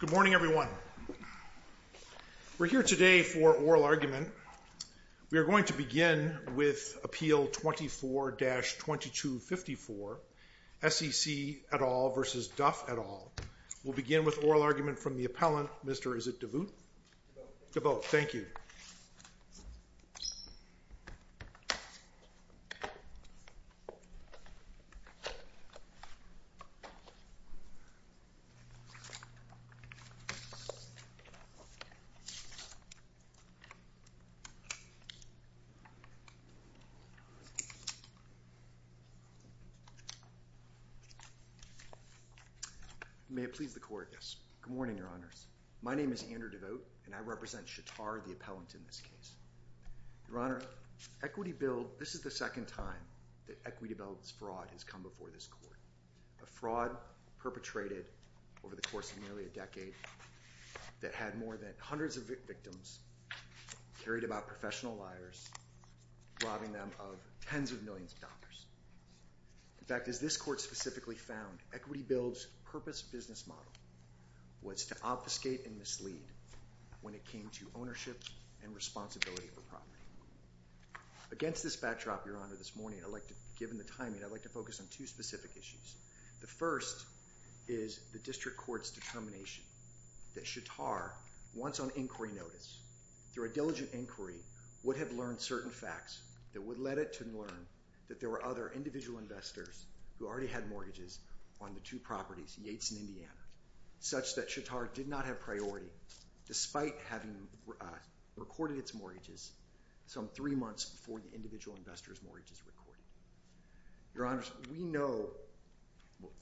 Good morning, everyone. We're here today for oral argument. We are going to begin with Appeal 24-2254, SEC et al. v. Duff et al. We'll begin with oral argument from the appellant, Mr. is it DeVoot? DeVoot. DeVoot. Thank you. May it please the court, yes. Good morning, your honors. My name is Andrew DeVoot, and I represent Shatar, the appellant, in this case. Your honor, Equity Build, this is the second time that Equity Build's fraud has come before this court. A fraud perpetrated over the course of nearly a decade that had more than hundreds of victims carried about professional liars, robbing them of tens of millions of dollars. In fact, as this court specifically found, Equity Build's purpose business model was to obfuscate and mislead when it came to ownership and responsibility for property. Against this backdrop, your honor, this morning, given the timing, I'd like to focus on two specific issues. The first is the district court's determination that Shatar, once on inquiry notice, through a diligent inquiry, would have learned certain facts that would let it to learn that there were other individual investors who already had mortgages on the two properties, Yates and Indiana, such that Shatar did not have priority, despite having recorded its mortgages some three months before the individual investors' mortgages were recorded. Your honors, we know,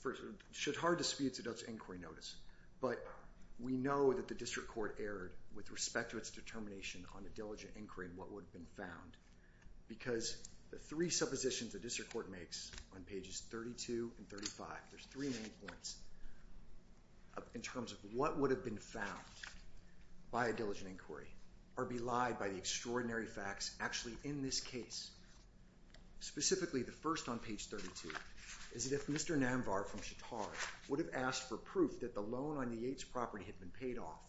for Shatar disputes, it does inquiry notice. But we know that the district court erred with respect to its determination on a diligent inquiry and what would have been found. Because the three suppositions the district court makes on pages 32 and 35, there's three key points in terms of what would have been found by a diligent inquiry or be lied by the extraordinary facts actually in this case. Specifically the first on page 32 is that if Mr. Namvar from Shatar would have asked for proof that the loan on the Yates property had been paid off,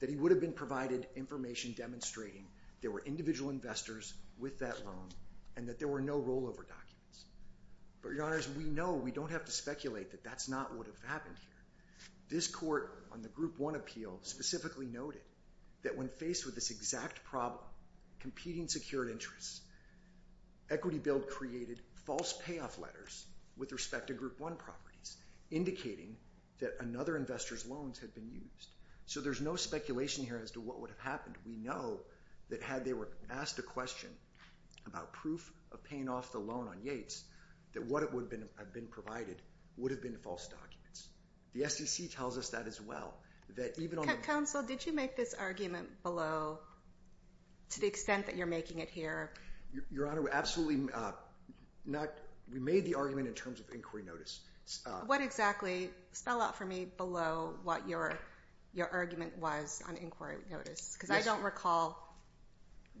that he would have been provided information demonstrating there were individual investors with that loan and that there were no rollover documents. But your honors, we know we don't have to speculate that that's not what would have happened here. This court on the Group 1 appeal specifically noted that when faced with this exact problem, competing secured interests, Equity Build created false payoff letters with respect to Group 1 properties, indicating that another investor's loans had been used. So there's no speculation here as to what would have happened. We know that had they were asked a question about proof of paying off the loan on Yates, that what would have been provided would have been false documents. The SEC tells us that as well. Counsel, did you make this argument below to the extent that you're making it here? Your honor, we absolutely not. We made the argument in terms of inquiry notice. What exactly? Spell out for me below what your argument was on inquiry notice. Because I don't recall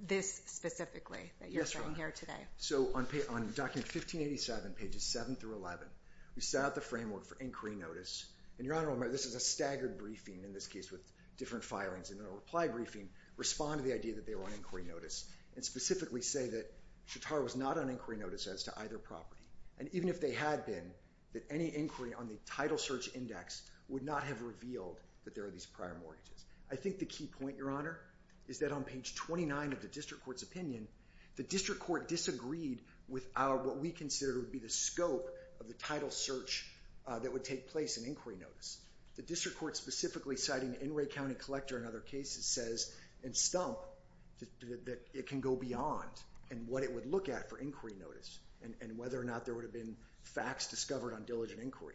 this specifically that you're saying here today. So on document 1587, pages 7 through 11, we set out the framework for inquiry notice. And your honor, this is a staggered briefing in this case with different filings. And in a reply briefing, respond to the idea that they were on inquiry notice and specifically say that Shatara was not on inquiry notice as to either property. And even if they had been, that any inquiry on the title search index would not have revealed that there are these prior mortgages. I think the key point, your honor, is that on page 29 of the district court's opinion, the district court disagreed with what we considered would be the scope of the title search that would take place in inquiry notice. The district court specifically citing an Inouye County collector in other cases says in stump that it can go beyond and what it would look at for inquiry notice and whether or not there would have been facts discovered on diligent inquiry.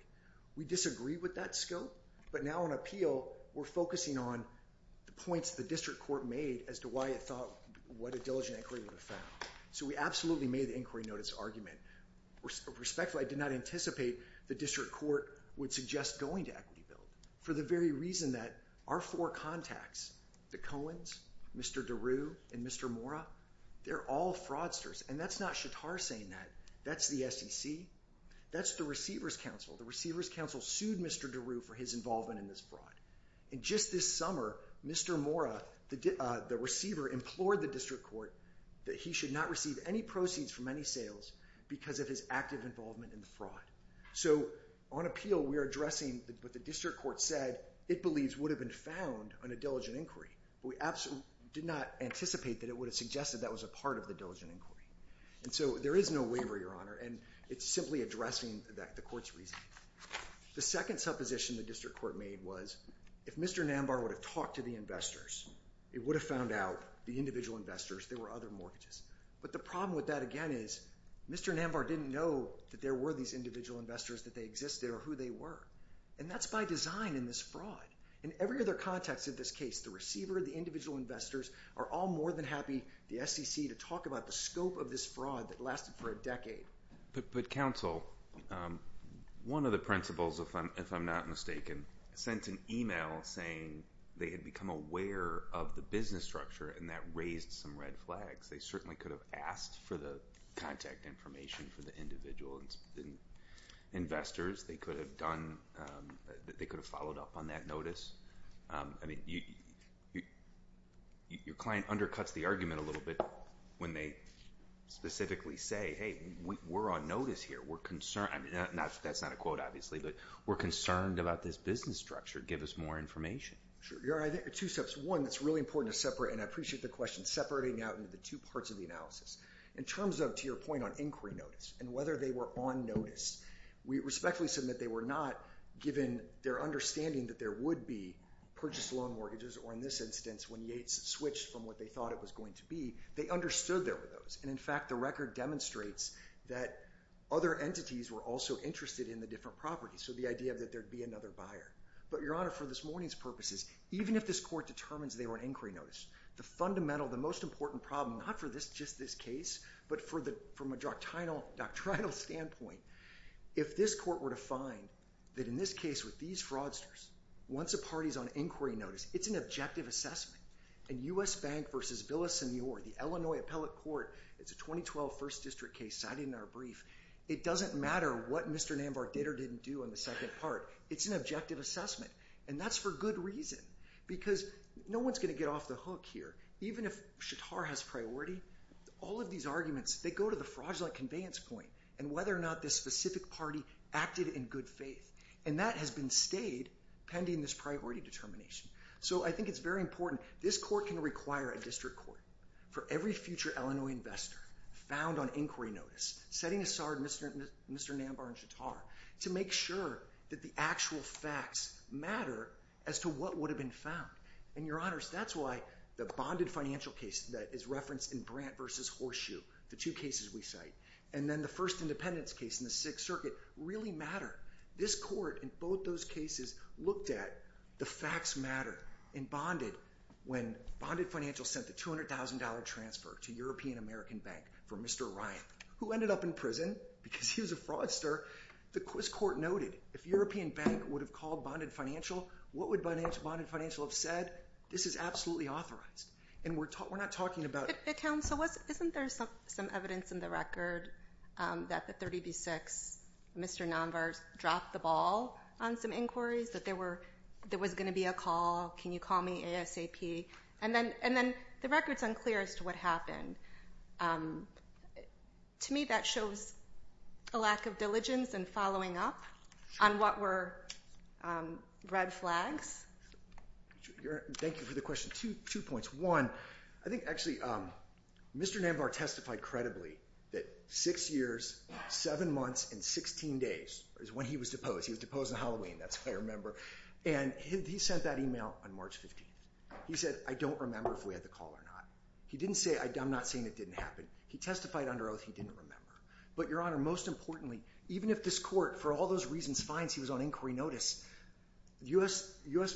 We disagreed with that scope. But now on appeal, we're focusing on the points the district court made as to why it thought what a diligent inquiry would have found. So we absolutely made the inquiry notice argument. Respectfully, I did not anticipate the district court would suggest going to equity bill for the very reason that our four contacts, the Coens, Mr. DeRue, and Mr. Mora, they're all fraudsters. And that's not Shatara saying that. That's the SEC. That's the receiver's counsel. The receiver's counsel sued Mr. DeRue for his involvement in this fraud. And just this summer, Mr. Mora, the receiver, implored the district court that he should not receive any proceeds from any sales because of his active involvement in the fraud. So on appeal, we are addressing what the district court said it believes would have been found on a diligent inquiry. But we absolutely did not anticipate that it would have suggested that was a part of the diligent inquiry. And so there is no waiver, Your Honor. And it's simply addressing the court's reasoning. The second supposition the district court made was if Mr. Nambar would have talked to the investors, it would have found out the individual investors, there were other mortgages. But the problem with that, again, is Mr. Nambar didn't know that there were these individual investors, that they existed, or who they were. And that's by design in this fraud. In every other context of this case, the receiver, the individual investors, are all more than But counsel, one of the principals, if I'm not mistaken, sent an email saying they had become aware of the business structure, and that raised some red flags. They certainly could have asked for the contact information for the individual investors. They could have done, they could have followed up on that notice. I mean, your client undercuts the argument a little bit when they specifically say, hey, we're on notice here. We're concerned. I mean, that's not a quote, obviously, but we're concerned about this business structure. Give us more information. Sure. Your Honor, I think there are two steps. One, it's really important to separate, and I appreciate the question, separating out into the two parts of the analysis. In terms of, to your point on inquiry notice, and whether they were on notice, we respectfully submit they were not, given their understanding that there would be purchased loan mortgages, or in this instance, when Yates switched from what they thought it was going to be, they understood there were those. And in fact, the record demonstrates that other entities were also interested in the different properties. So the idea that there'd be another buyer. But your Honor, for this morning's purposes, even if this court determines they were on inquiry notice, the fundamental, the most important problem, not for just this case, but from a doctrinal standpoint, if this court were to find that in this case with these fraudsters, once a party's on inquiry notice, it's an objective assessment, and U.S. Bank v. Villasenor, the Illinois Appellate Court, it's a 2012 First District case cited in our brief, it doesn't matter what Mr. Nambar did or didn't do in the second part, it's an objective assessment. And that's for good reason. Because no one's going to get off the hook here. Even if Shatar has priority, all of these arguments, they go to the fraudulent conveyance point, and whether or not this specific party acted in good faith. And that has been stayed, pending this priority determination. So I think it's very important. This court can require a district court for every future Illinois investor found on inquiry notice, setting aside Mr. Nambar and Shatar, to make sure that the actual facts matter as to what would have been found. And your Honors, that's why the bonded financial case that is referenced in Brandt v. Horseshoe, the two cases we cite, and then the first independence case in the Sixth Circuit, really matter. This court, in both those cases, looked at the facts matter in Bonded when Bonded Financial sent the $200,000 transfer to European American Bank for Mr. Ryan, who ended up in prison because he was a fraudster. The Quiz Court noted, if European Bank would have called Bonded Financial, what would Bonded Financial have said? This is absolutely authorized. And we're not talking about- But Counsel, isn't there some evidence in the record that the 30 v. 6, Mr. Nambar dropped the ball on some inquiries, that there was going to be a call, can you call me ASAP? And then the record's unclear as to what happened. To me, that shows a lack of diligence and following up on what were red flags. Thank you for the question. Two points. One, I think actually, Mr. Nambar testified credibly that six years, seven months, and 16 days is when he was deposed. He was deposed on Halloween, that's what I remember. And he sent that email on March 15th. He said, I don't remember if we had the call or not. He didn't say, I'm not saying it didn't happen. He testified under oath he didn't remember. But Your Honor, most importantly, even if this court, for all those reasons, finds he was on inquiry notice, U.S.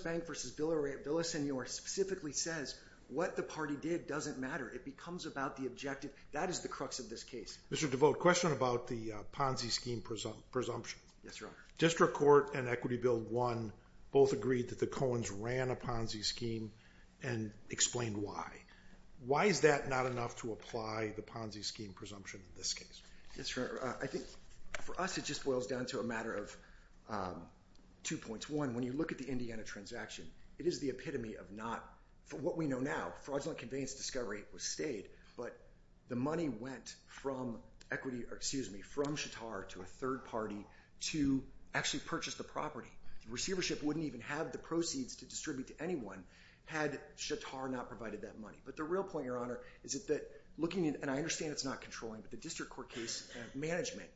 Bank v. Villasenor specifically says, what the party did doesn't matter. It becomes about the objective. That is the crux of this case. Mr. DeVote, question about the Ponzi scheme presumption. Yes, Your Honor. District Court and Equity Bill 1 both agreed that the Coens ran a Ponzi scheme and explained why. Why is that not enough to apply the Ponzi scheme presumption in this case? Yes, Your Honor. I think, for us, it just boils down to a matter of two points. One, when you look at the Indiana transaction, it is the epitome of not, for what we know now, fraudulent conveyance discovery was stayed, but the money went from equity, excuse me, from Shatar to a third party to actually purchase the property. Receivership wouldn't even have the proceeds to distribute to anyone had Shatar not provided that money. But the real point, Your Honor, is that looking, and I understand it's not controlling, but the District Court case management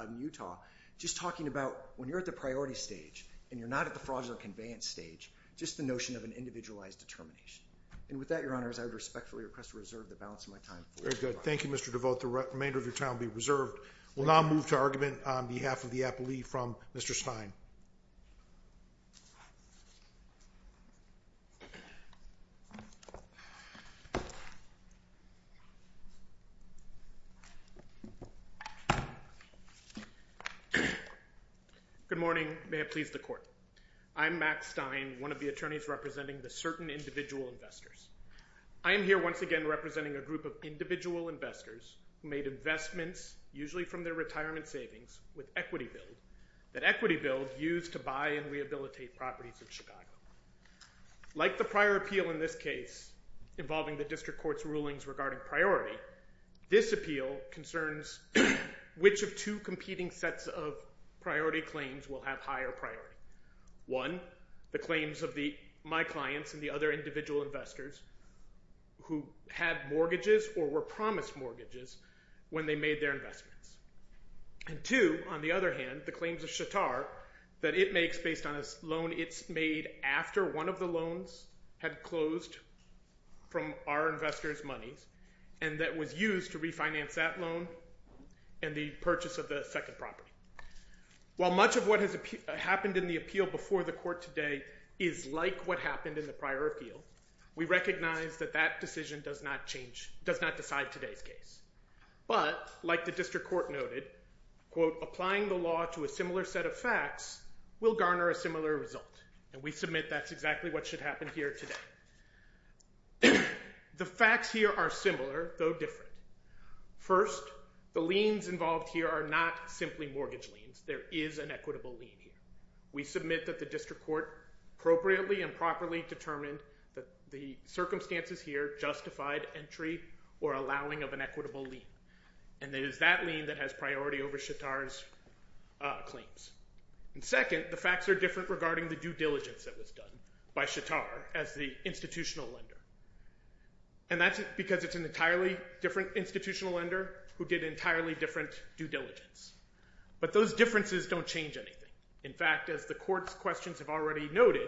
in Utah, just talking about when you're at the priority stage and you're not at the fraudulent conveyance stage, just the notion of an individualized determination. And with that, Your Honor, I would respectfully request to reserve the balance of my time for discussion. Very good. Thank you, Mr. DeVote. The remainder of your time will be reserved. We'll now move to argument on behalf of the appellee from Mr. Stein. Good morning. May it please the Court. I'm Max Stein, one of the attorneys representing the certain individual investors. I am here once again representing a group of individual investors who made investments, usually from their retirement savings, with Equity Build, that Equity Build used to buy and rehabilitate properties in Chicago. Like the prior appeal in this case involving the District Court's rulings regarding priority, this appeal concerns which of two competing sets of priority claims will have higher priority. One, the claims of my clients and the other individual investors who had mortgages or were promised mortgages when they made their investments. And two, on the other hand, the claims of Chattar that it makes based on a loan it's made after one of the loans had closed from our investors' monies and that was used to refinance that loan and the purchase of the second property. While much of what has happened in the appeal before the Court today is like what happened in the prior appeal, we recognize that that decision does not decide today's case. But like the District Court noted, quote, applying the law to a similar set of facts will garner a similar result, and we submit that's exactly what should happen here today. The facts here are similar, though different. First, the liens involved here are not simply mortgage liens. There is an equitable lien here. We submit that the District Court appropriately and properly determined that the circumstances here justified entry or allowing of an equitable lien, and it is that lien that has priority over Chattar's claims. And second, the facts are different regarding the due diligence that was done by Chattar as the institutional lender. And that's because it's an entirely different institutional lender who did entirely different due diligence. But those differences don't change anything. In fact, as the Court's questions have already noted,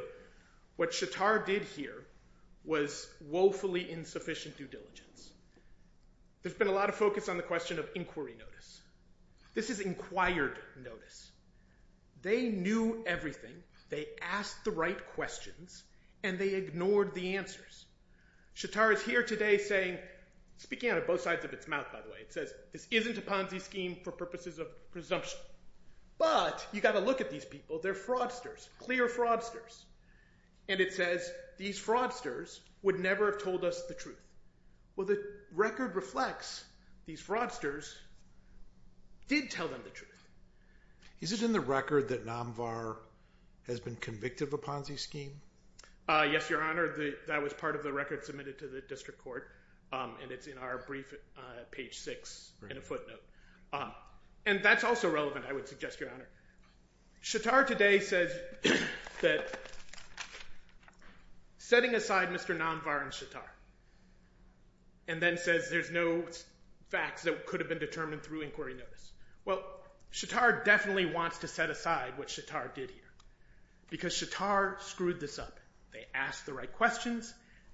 what Chattar did here was woefully insufficient due diligence. There's been a lot of focus on the question of inquiry notice. This is inquired notice. They knew everything. They asked the right questions, and they ignored the answers. Chattar is here today saying, speaking out of both sides of its mouth, by the way, it says this isn't a Ponzi scheme for purposes of presumption, but you've got to look at these people. They're fraudsters, clear fraudsters. And it says these fraudsters would never have told us the truth. Well, the record reflects these fraudsters did tell them the truth. Is it in the record that Namvar has been convicted of a Ponzi scheme? Yes, Your Honor. That was part of the record submitted to the District Court, and it's in our brief, page six, in a footnote. And that's also relevant, I would suggest, Your Honor. Chattar today says that setting aside Mr. Namvar and Chattar, and then says there's no facts that could have been determined through inquiry notice. Well, Chattar definitely wants to set aside what Chattar did here, because Chattar screwed this up. They asked the right questions,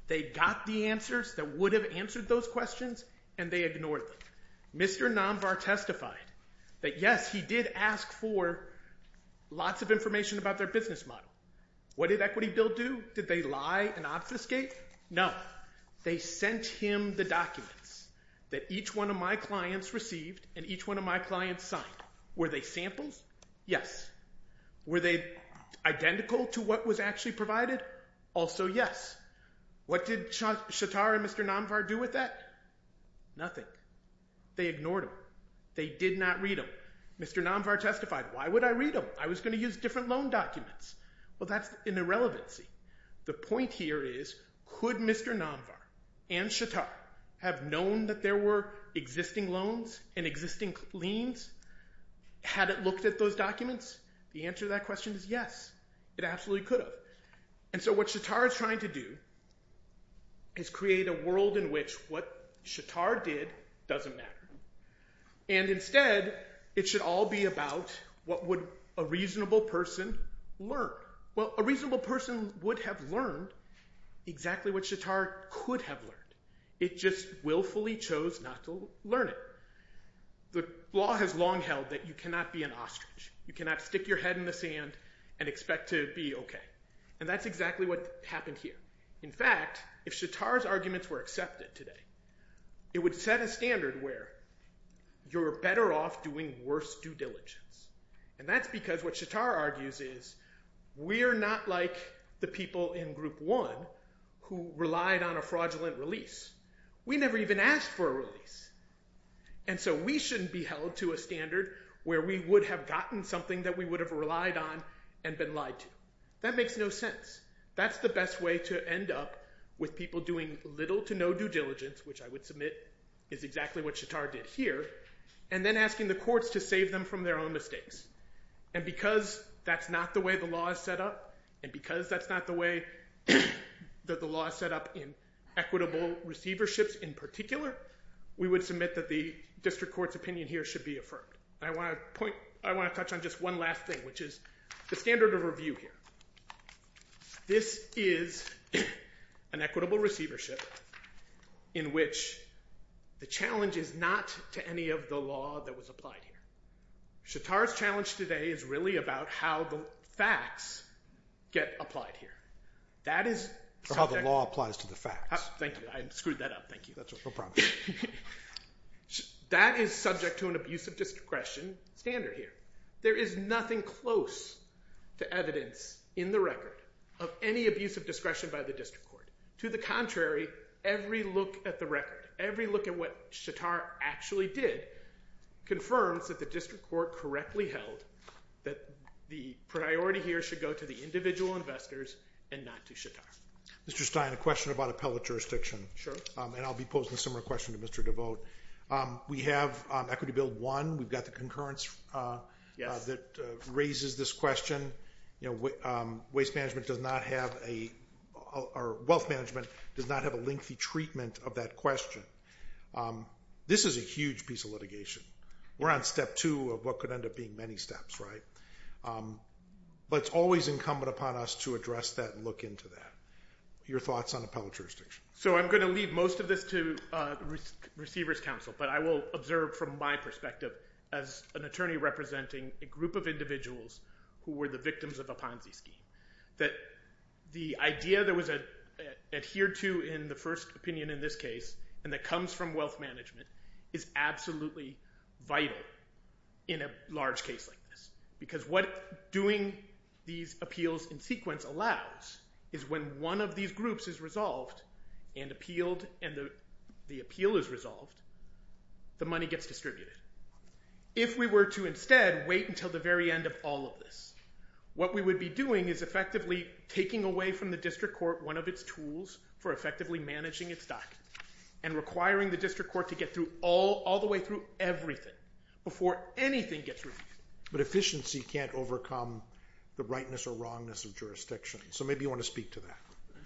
they got the answers that would have answered those questions, and they ignored them. Mr. Namvar testified that, yes, he did ask for lots of information about their business model. What did Equity Bill do? Did they lie and obfuscate? No. They sent him the documents that each one of my clients received and each one of my clients signed. Were they samples? Yes. Were they identical to what was actually provided? Also, yes. What did Chattar and Mr. Namvar do with that? Nothing. They ignored them. They did not read them. Mr. Namvar testified, why would I read them? I was going to use different loan documents. Well, that's an irrelevancy. The point here is, could Mr. Namvar and Chattar have known that there were existing loans and existing liens? Had it looked at those documents? The answer to that question is yes, it absolutely could have. What Chattar is trying to do is create a world in which what Chattar did doesn't matter. Instead, it should all be about what would a reasonable person learn? A reasonable person would have learned exactly what Chattar could have learned. It just willfully chose not to learn it. The law has long held that you cannot be an ostrich. You cannot stick your head in the sand and expect to be okay. That's exactly what happened here. In fact, if Chattar's arguments were accepted today, it would set a standard where you're better off doing worse due diligence. That's because what Chattar argues is we're not like the people in Group 1 who relied on a fraudulent release. We never even asked for a release. We shouldn't be held to a standard where we would have gotten something that we would have relied on and been lied to. That makes no sense. That's the best way to end up with people doing little to no due diligence, which I would submit is exactly what Chattar did here, and then asking the courts to save them from their own mistakes. Because that's not the way the law is set up, and because that's not the way that the district court's opinion here should be affirmed. I want to point, I want to touch on just one last thing, which is the standard of review here. This is an equitable receivership in which the challenge is not to any of the law that was applied here. Chattar's challenge today is really about how the facts get applied here. That is... How the law applies to the facts. Thank you. I screwed that up. Thank you. No problem. That is subject to an abuse of discretion standard here. There is nothing close to evidence in the record of any abuse of discretion by the district court. To the contrary, every look at the record, every look at what Chattar actually did confirms that the district court correctly held that the priority here should go to the individual investors and not to Chattar. Mr. Stein, a question about appellate jurisdiction. Sure. I'll be posing a similar question to Mr. Devote. We have Equity Bill 1. We've got the concurrence that raises this question. Waste management does not have a... Or wealth management does not have a lengthy treatment of that question. This is a huge piece of litigation. We're on step two of what could end up being many steps. It's always incumbent upon us to address that and look into that. Your thoughts on appellate jurisdiction? I'm going to leave most of this to receivers' counsel, but I will observe from my perspective as an attorney representing a group of individuals who were the victims of a Ponzi scheme that the idea that was adhered to in the first opinion in this case and that comes from wealth management is absolutely vital in a large case like this because what doing these appeals in sequence allows is when one of these groups is resolved and the appeal is resolved, the money gets distributed. If we were to instead wait until the very end of all of this, what we would be doing is effectively taking away from the district court one of its tools for effectively managing its docket and requiring the district court to get through all the way through everything before anything gets removed. But efficiency can't overcome the rightness or wrongness of jurisdiction, so maybe you want to speak to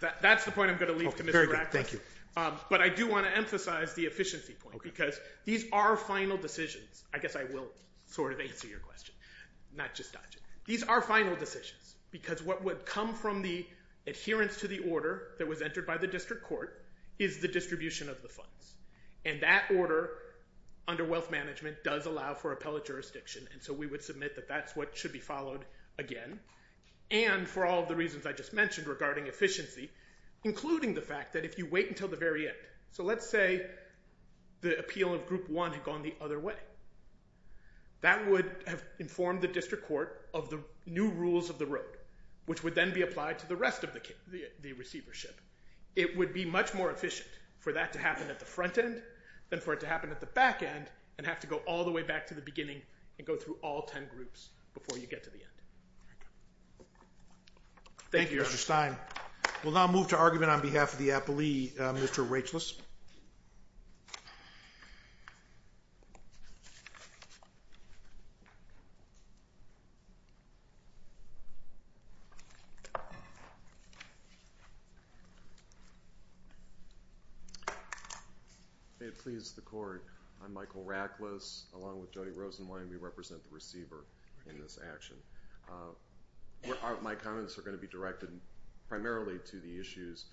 that. That's the point I'm going to leave to Mr. Bradford, but I do want to emphasize the efficiency point because these are final decisions. I guess I will sort of answer your question, not just dodge it. These are final decisions because what would come from the adherence to the order that was entered by the district court is the distribution of the funds, and that order under wealth management does allow for appellate jurisdiction, and so we would submit that that's what should be followed again. And for all of the reasons I just mentioned regarding efficiency, including the fact that if you wait until the very end, so let's say the appeal of group one had gone the other way, that would have informed the district court of the new rules of the road, which would then be applied to the rest of the receivership. It would be much more efficient for that to happen at the front end than for it to happen at the back end and have to go all the way back to the beginning and go through all ten groups before you get to the end. Thank you, Mr. Stein. We'll now move to argument on behalf of the appellee, Mr. Rachlis. May it please the Court. I'm Michael Rachlis, along with Jody Rosenwein. We represent the receiver in this action. My comments are going to be directed primarily to the issues,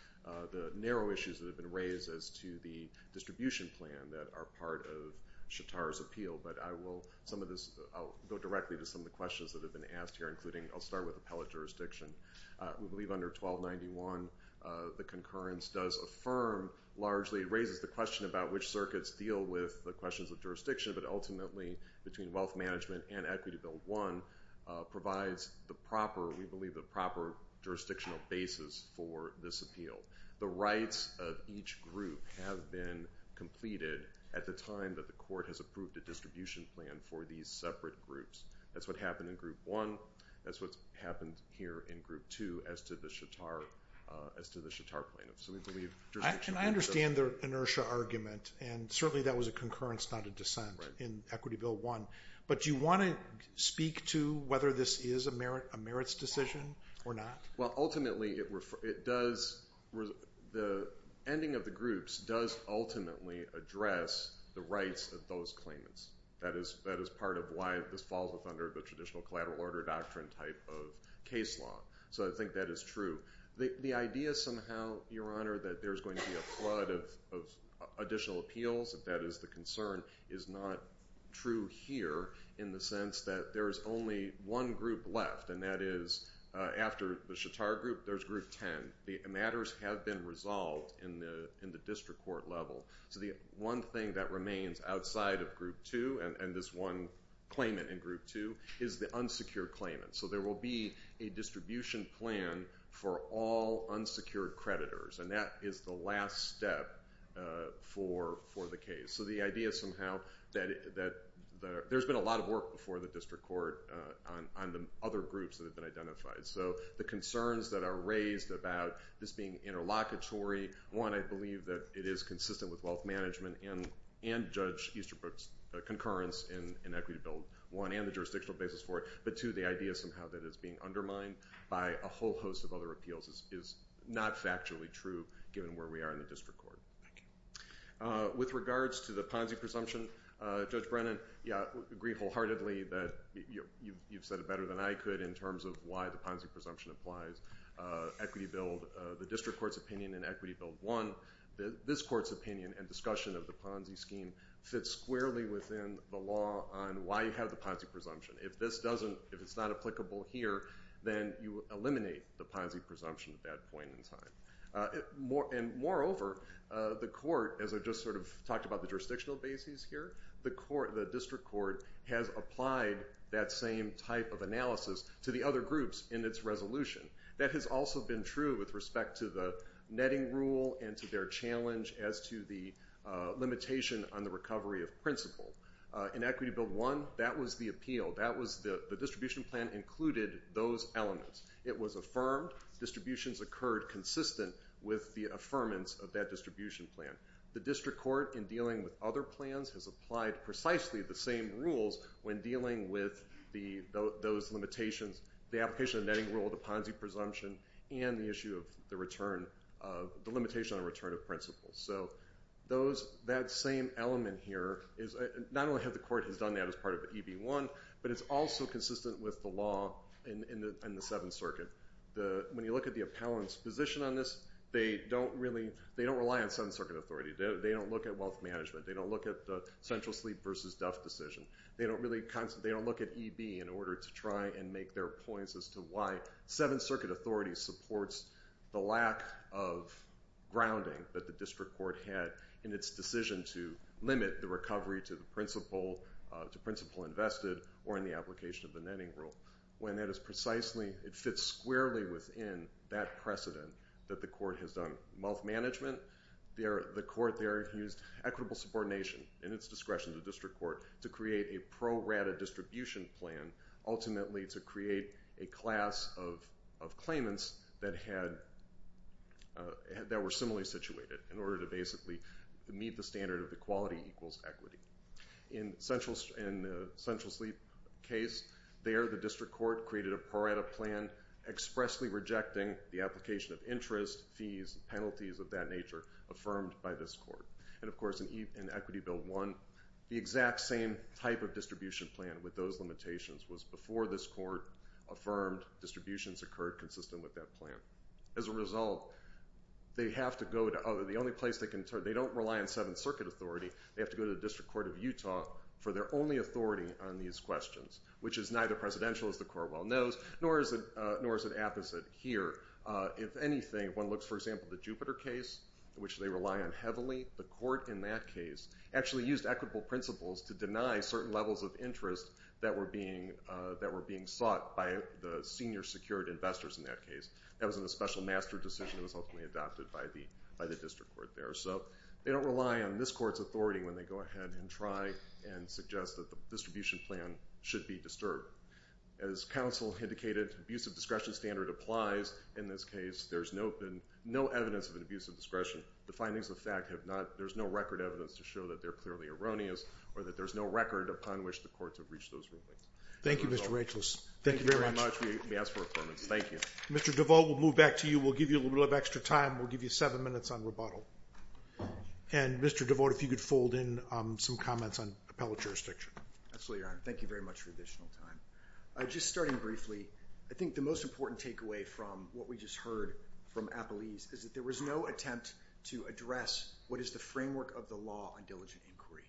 the narrow issues that have been brought to the distribution plan that are part of SHATAR's appeal. But I will, some of this, I'll go directly to some of the questions that have been asked here, including, I'll start with appellate jurisdiction. We believe under 1291, the concurrence does affirm largely, raises the question about which circuits deal with the questions of jurisdiction, but ultimately between wealth management and Equity Bill 1 provides the proper, we believe the proper jurisdictional basis for this appeal. The rights of each group have been completed at the time that the Court has approved a distribution plan for these separate groups. That's what happened in Group 1. That's what's happened here in Group 2 as to the SHATAR plaintiffs. I understand the inertia argument, and certainly that was a concurrence, not a dissent in Equity Bill 1. But do you want to speak to whether this is a merits decision or not? Well, ultimately, it does, the ending of the groups does ultimately address the rights of those claimants. That is part of why this falls under the traditional collateral order doctrine type of case law. So I think that is true. The idea somehow, Your Honor, that there's going to be a flood of additional appeals, if that is the concern, is not true here in the sense that there is only one group left, and that is after the SHATAR group, there's Group 10. The matters have been resolved in the district court level. So the one thing that remains outside of Group 2, and this one claimant in Group 2, is the unsecured claimant. So there will be a distribution plan for all unsecured creditors, and that is the last step for the case. So the idea somehow that there's been a lot of work before the district court on the other groups that have been identified. So the concerns that are raised about this being interlocutory, one, I believe that it is consistent with wealth management and Judge Easterbrook's concurrence in equity bill, one, and the jurisdictional basis for it, but two, the idea somehow that it's being undermined by a whole host of other appeals is not factually true, given where we are in the district court. Thank you. With regards to the Ponzi presumption, Judge Brennan, yeah, I agree wholeheartedly that you've said it better than I could in terms of why the Ponzi presumption applies. Equity bill, the district court's opinion in Equity Bill 1, this court's opinion and discussion of the Ponzi scheme fits squarely within the law on why you have the Ponzi presumption. If this doesn't, if it's not applicable here, then you eliminate the Ponzi presumption at that point in time. And moreover, the court, as I just sort of talked about the jurisdictional basis here, the court, the district court has applied that same type of analysis to the other groups in its resolution. That has also been true with respect to the netting rule and to their challenge as to the limitation on the recovery of principle. In Equity Bill 1, that was the appeal. That was the distribution plan included those elements. It was affirmed. Distributions occurred consistent with the affirmance of that distribution plan. The district court, in dealing with other plans, has applied precisely the same rules when dealing with those limitations, the application of the netting rule, the Ponzi presumption, and the issue of the return, the limitation on the return of principle. So that same element here, not only has the court done that as part of EB1, but it's also consistent with the law in the Seventh Circuit. When you look at the appellant's position on this, they don't rely on Seventh Circuit authority. They don't look at wealth management. They don't look at the central sleep versus death decision. They don't look at EB in order to try and make their points as to why Seventh Circuit authority supports the lack of grounding that the district court had in its decision to limit the recovery to principle invested or in the application of the netting rule. When that is precisely, it fits squarely within that precedent that the court has done. In the case of wealth management, the court there used equitable subordination in its discretion to the district court to create a pro-rata distribution plan, ultimately to create a class of claimants that were similarly situated in order to basically meet the standard of equality equals equity. In the central sleep case, there the district court created a pro-rata plan expressly rejecting the application of interest, fees, and penalties of that nature affirmed by this court. Of course, in Equity Bill 1, the exact same type of distribution plan with those limitations was before this court affirmed distributions occurred consistent with that plan. As a result, they don't rely on Seventh Circuit authority. They have to go to the district court of Utah for their only authority on these questions, which is neither presidential, as the court well knows, nor is it apposite here. If anything, if one looks, for example, at the Jupiter case, which they rely on heavily, the court in that case actually used equitable principles to deny certain levels of interest that were being sought by the senior secured investors in that case. That was a special master decision that was ultimately adopted by the district court there. So they don't rely on this court's authority when they go ahead and try and suggest that the distribution plan should be disturbed. As counsel indicated, abusive discretion standard applies in this case. There's no evidence of an abuse of discretion. The findings of the fact have not, there's no record evidence to show that they're clearly erroneous or that there's no record upon which the courts have reached those rulings. Thank you, Mr. Rachels. Thank you very much. We ask for approval. Thank you. Mr. DeVault, we'll move back to you. We'll give you a little bit of extra time. We'll give you seven minutes on rebuttal. And, Mr. DeVault, if you could fold in some comments on appellate jurisdiction. Absolutely, Your Honor. Thank you very much for additional time. Just starting briefly, I think the most important takeaway from what we just heard from Appalese is that there was no attempt to address what is the framework of the law on diligent inquiry.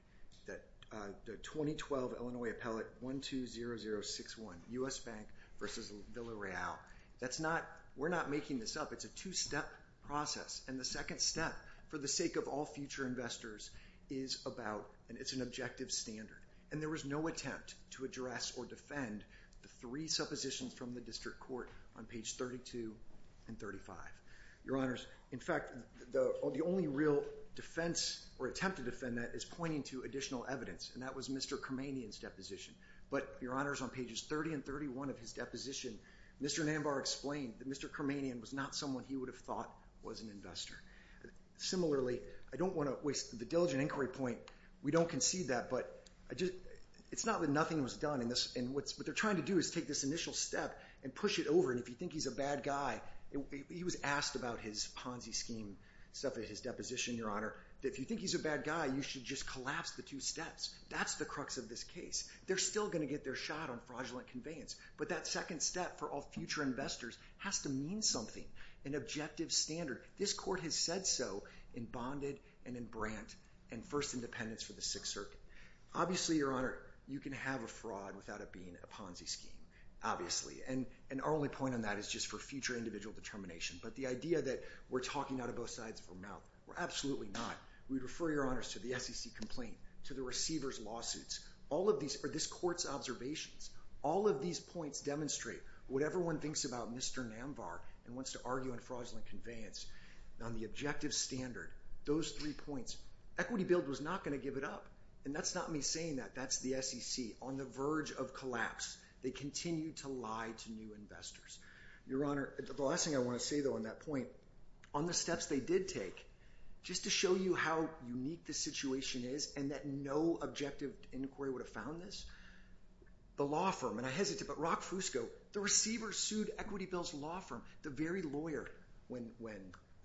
The 2012 Illinois Appellate 120061, U.S. Bank versus Villareal, we're not making this up. It's a two-step process. And the second step, for the sake of all future investors, is about, and it's an objective standard. And there was no attempt to address or defend the three suppositions from the district court on page 32 and 35. Your Honors, in fact, the only real defense or attempt to defend that is pointing to additional evidence. And that was Mr. Kermanian's deposition. But, Your Honors, on pages 30 and 31 of his deposition, Mr. Nanbar explained that Mr. Kermanian was not someone he would have thought was an investor. Similarly, I don't want to waste the diligent inquiry point. We don't concede that, but it's not that nothing was done. What they're trying to do is take this initial step and push it over. And if you think he's a bad guy, he was asked about his Ponzi scheme, his deposition, Your Honor, that if you think he's a bad guy, you should just collapse the two steps. That's the crux of this case. They're still going to get their shot on fraudulent conveyance. But that second step for all future investors has to mean something, an objective standard. This court has said so in Bonded and in Brandt and First Independence for the Sixth Circuit. Obviously, Your Honor, you can have a fraud without it being a Ponzi scheme. Obviously. And our only point on that is just for future individual determination. But the idea that we're talking out of both sides of our mouth, we're absolutely not. We would refer, Your Honors, to the SEC complaint, to the receiver's lawsuits. All of these are this court's observations. All of these points demonstrate what everyone thinks about Mr. Namvar and wants to argue on fraudulent conveyance. On the objective standard, those three points, Equity Build was not going to give it up. And that's not me saying that. That's the SEC on the verge of collapse. They continue to lie to new investors. Your Honor, the last thing I want to say, though, on that point, on the steps they did take, just to show you how unique the situation is and that no objective inquiry would have found this, the law firm, and I hesitate, but Rock Fusco, the receiver sued Equity Build's law firm, the very lawyer, when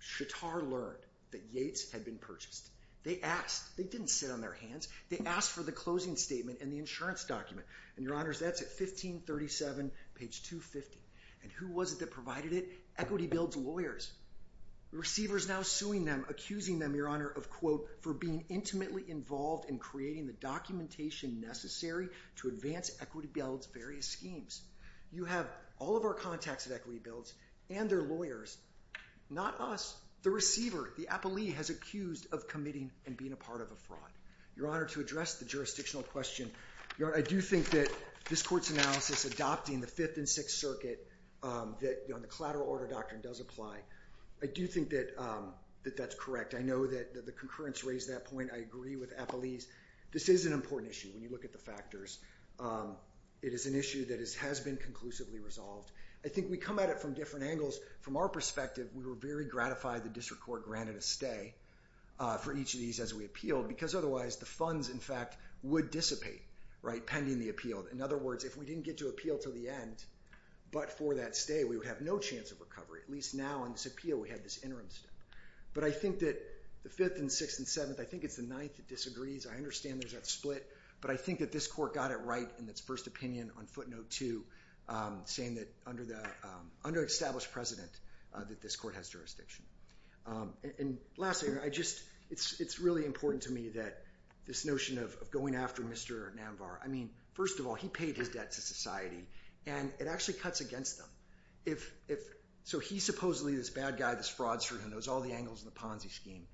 Shattar learned that Yates had been purchased. They asked. They didn't sit on their hands. They asked for the closing statement and the insurance document. And, Your Honors, that's at 1537, page 250. And who was it that provided it? Equity Build's lawyers. The receiver's now suing them, accusing them, Your Honor, of, quote, for being intimately involved in creating the documentation necessary to advance Equity Build's various schemes. You have all of our contacts at Equity Build and their lawyers. Not us. The receiver, the appellee, has accused of committing and being a part of a fraud. Your Honor, to address the jurisdictional question, Your Honor, I do think that this court's analysis adopting the Fifth and Sixth Circuit, that the collateral order doctrine does apply. I do think that that's correct. I know that the concurrence raised that point. I agree with appellees. This is an important issue when you look at the factors. It is an issue that has been conclusively resolved. I think we come at it from different angles. From our perspective, we were very gratified the district court granted a stay for each of these as we appealed because otherwise the funds, in fact, would dissipate, right, pending the appeal. In other words, if we didn't get to appeal to the end but for that stay, we would have no chance of recovery. At least now in this appeal we have this interim step. But I think that the Fifth and Sixth and Seventh, I think it's the Ninth that disagrees. I understand there's that split, but I think that this court got it right in its first opinion on footnote two, saying that under the under-established precedent that this court has jurisdiction. And lastly, it's really important to me that this notion of going after Mr. Namvar, I mean, first of all, he paid his debt to society and it actually cuts against them. So he's supposedly this bad guy, this fraudster who knows all the angles in the Ponzi scheme.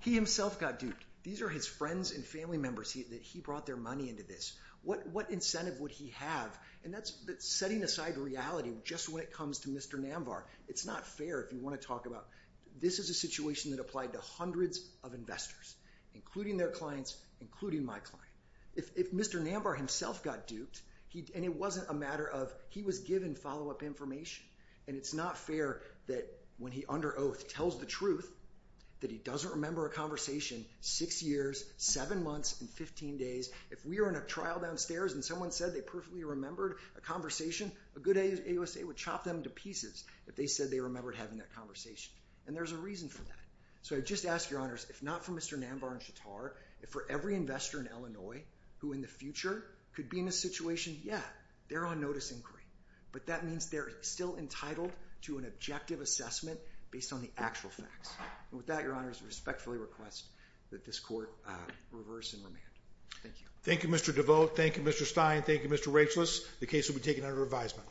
He himself got duped. These are his friends and family members that he brought their money into this. What incentive would he have? And that's setting aside reality just when it comes to Mr. Namvar. It's not fair if you want to talk about this is a situation that applied to hundreds of investors, including their clients, including my client. If Mr. Namvar himself got duped and it wasn't a matter of he was given follow-up information, and it's not fair that when he, under oath, tells the truth that he doesn't remember a conversation six years, seven months, and 15 days. If we were in a trial downstairs and someone said they perfectly remembered a conversation, a good AUSA would chop them to pieces if they said they remembered having that conversation. And there's a reason for that. So I just ask, Your Honors, if not for Mr. Namvar and Shattar, if for every investor in Illinois who in the future could be in this situation, yeah, they're on notice inquiry. But that means they're still entitled to an objective assessment based on the actual facts. And with that, Your Honors, I respectfully request that this court reverse and remand. Thank you. Thank you, Mr. DeVoe. Thank you, Mr. Stein. Thank you, Mr. Rachelis. The case will be taken under revisement.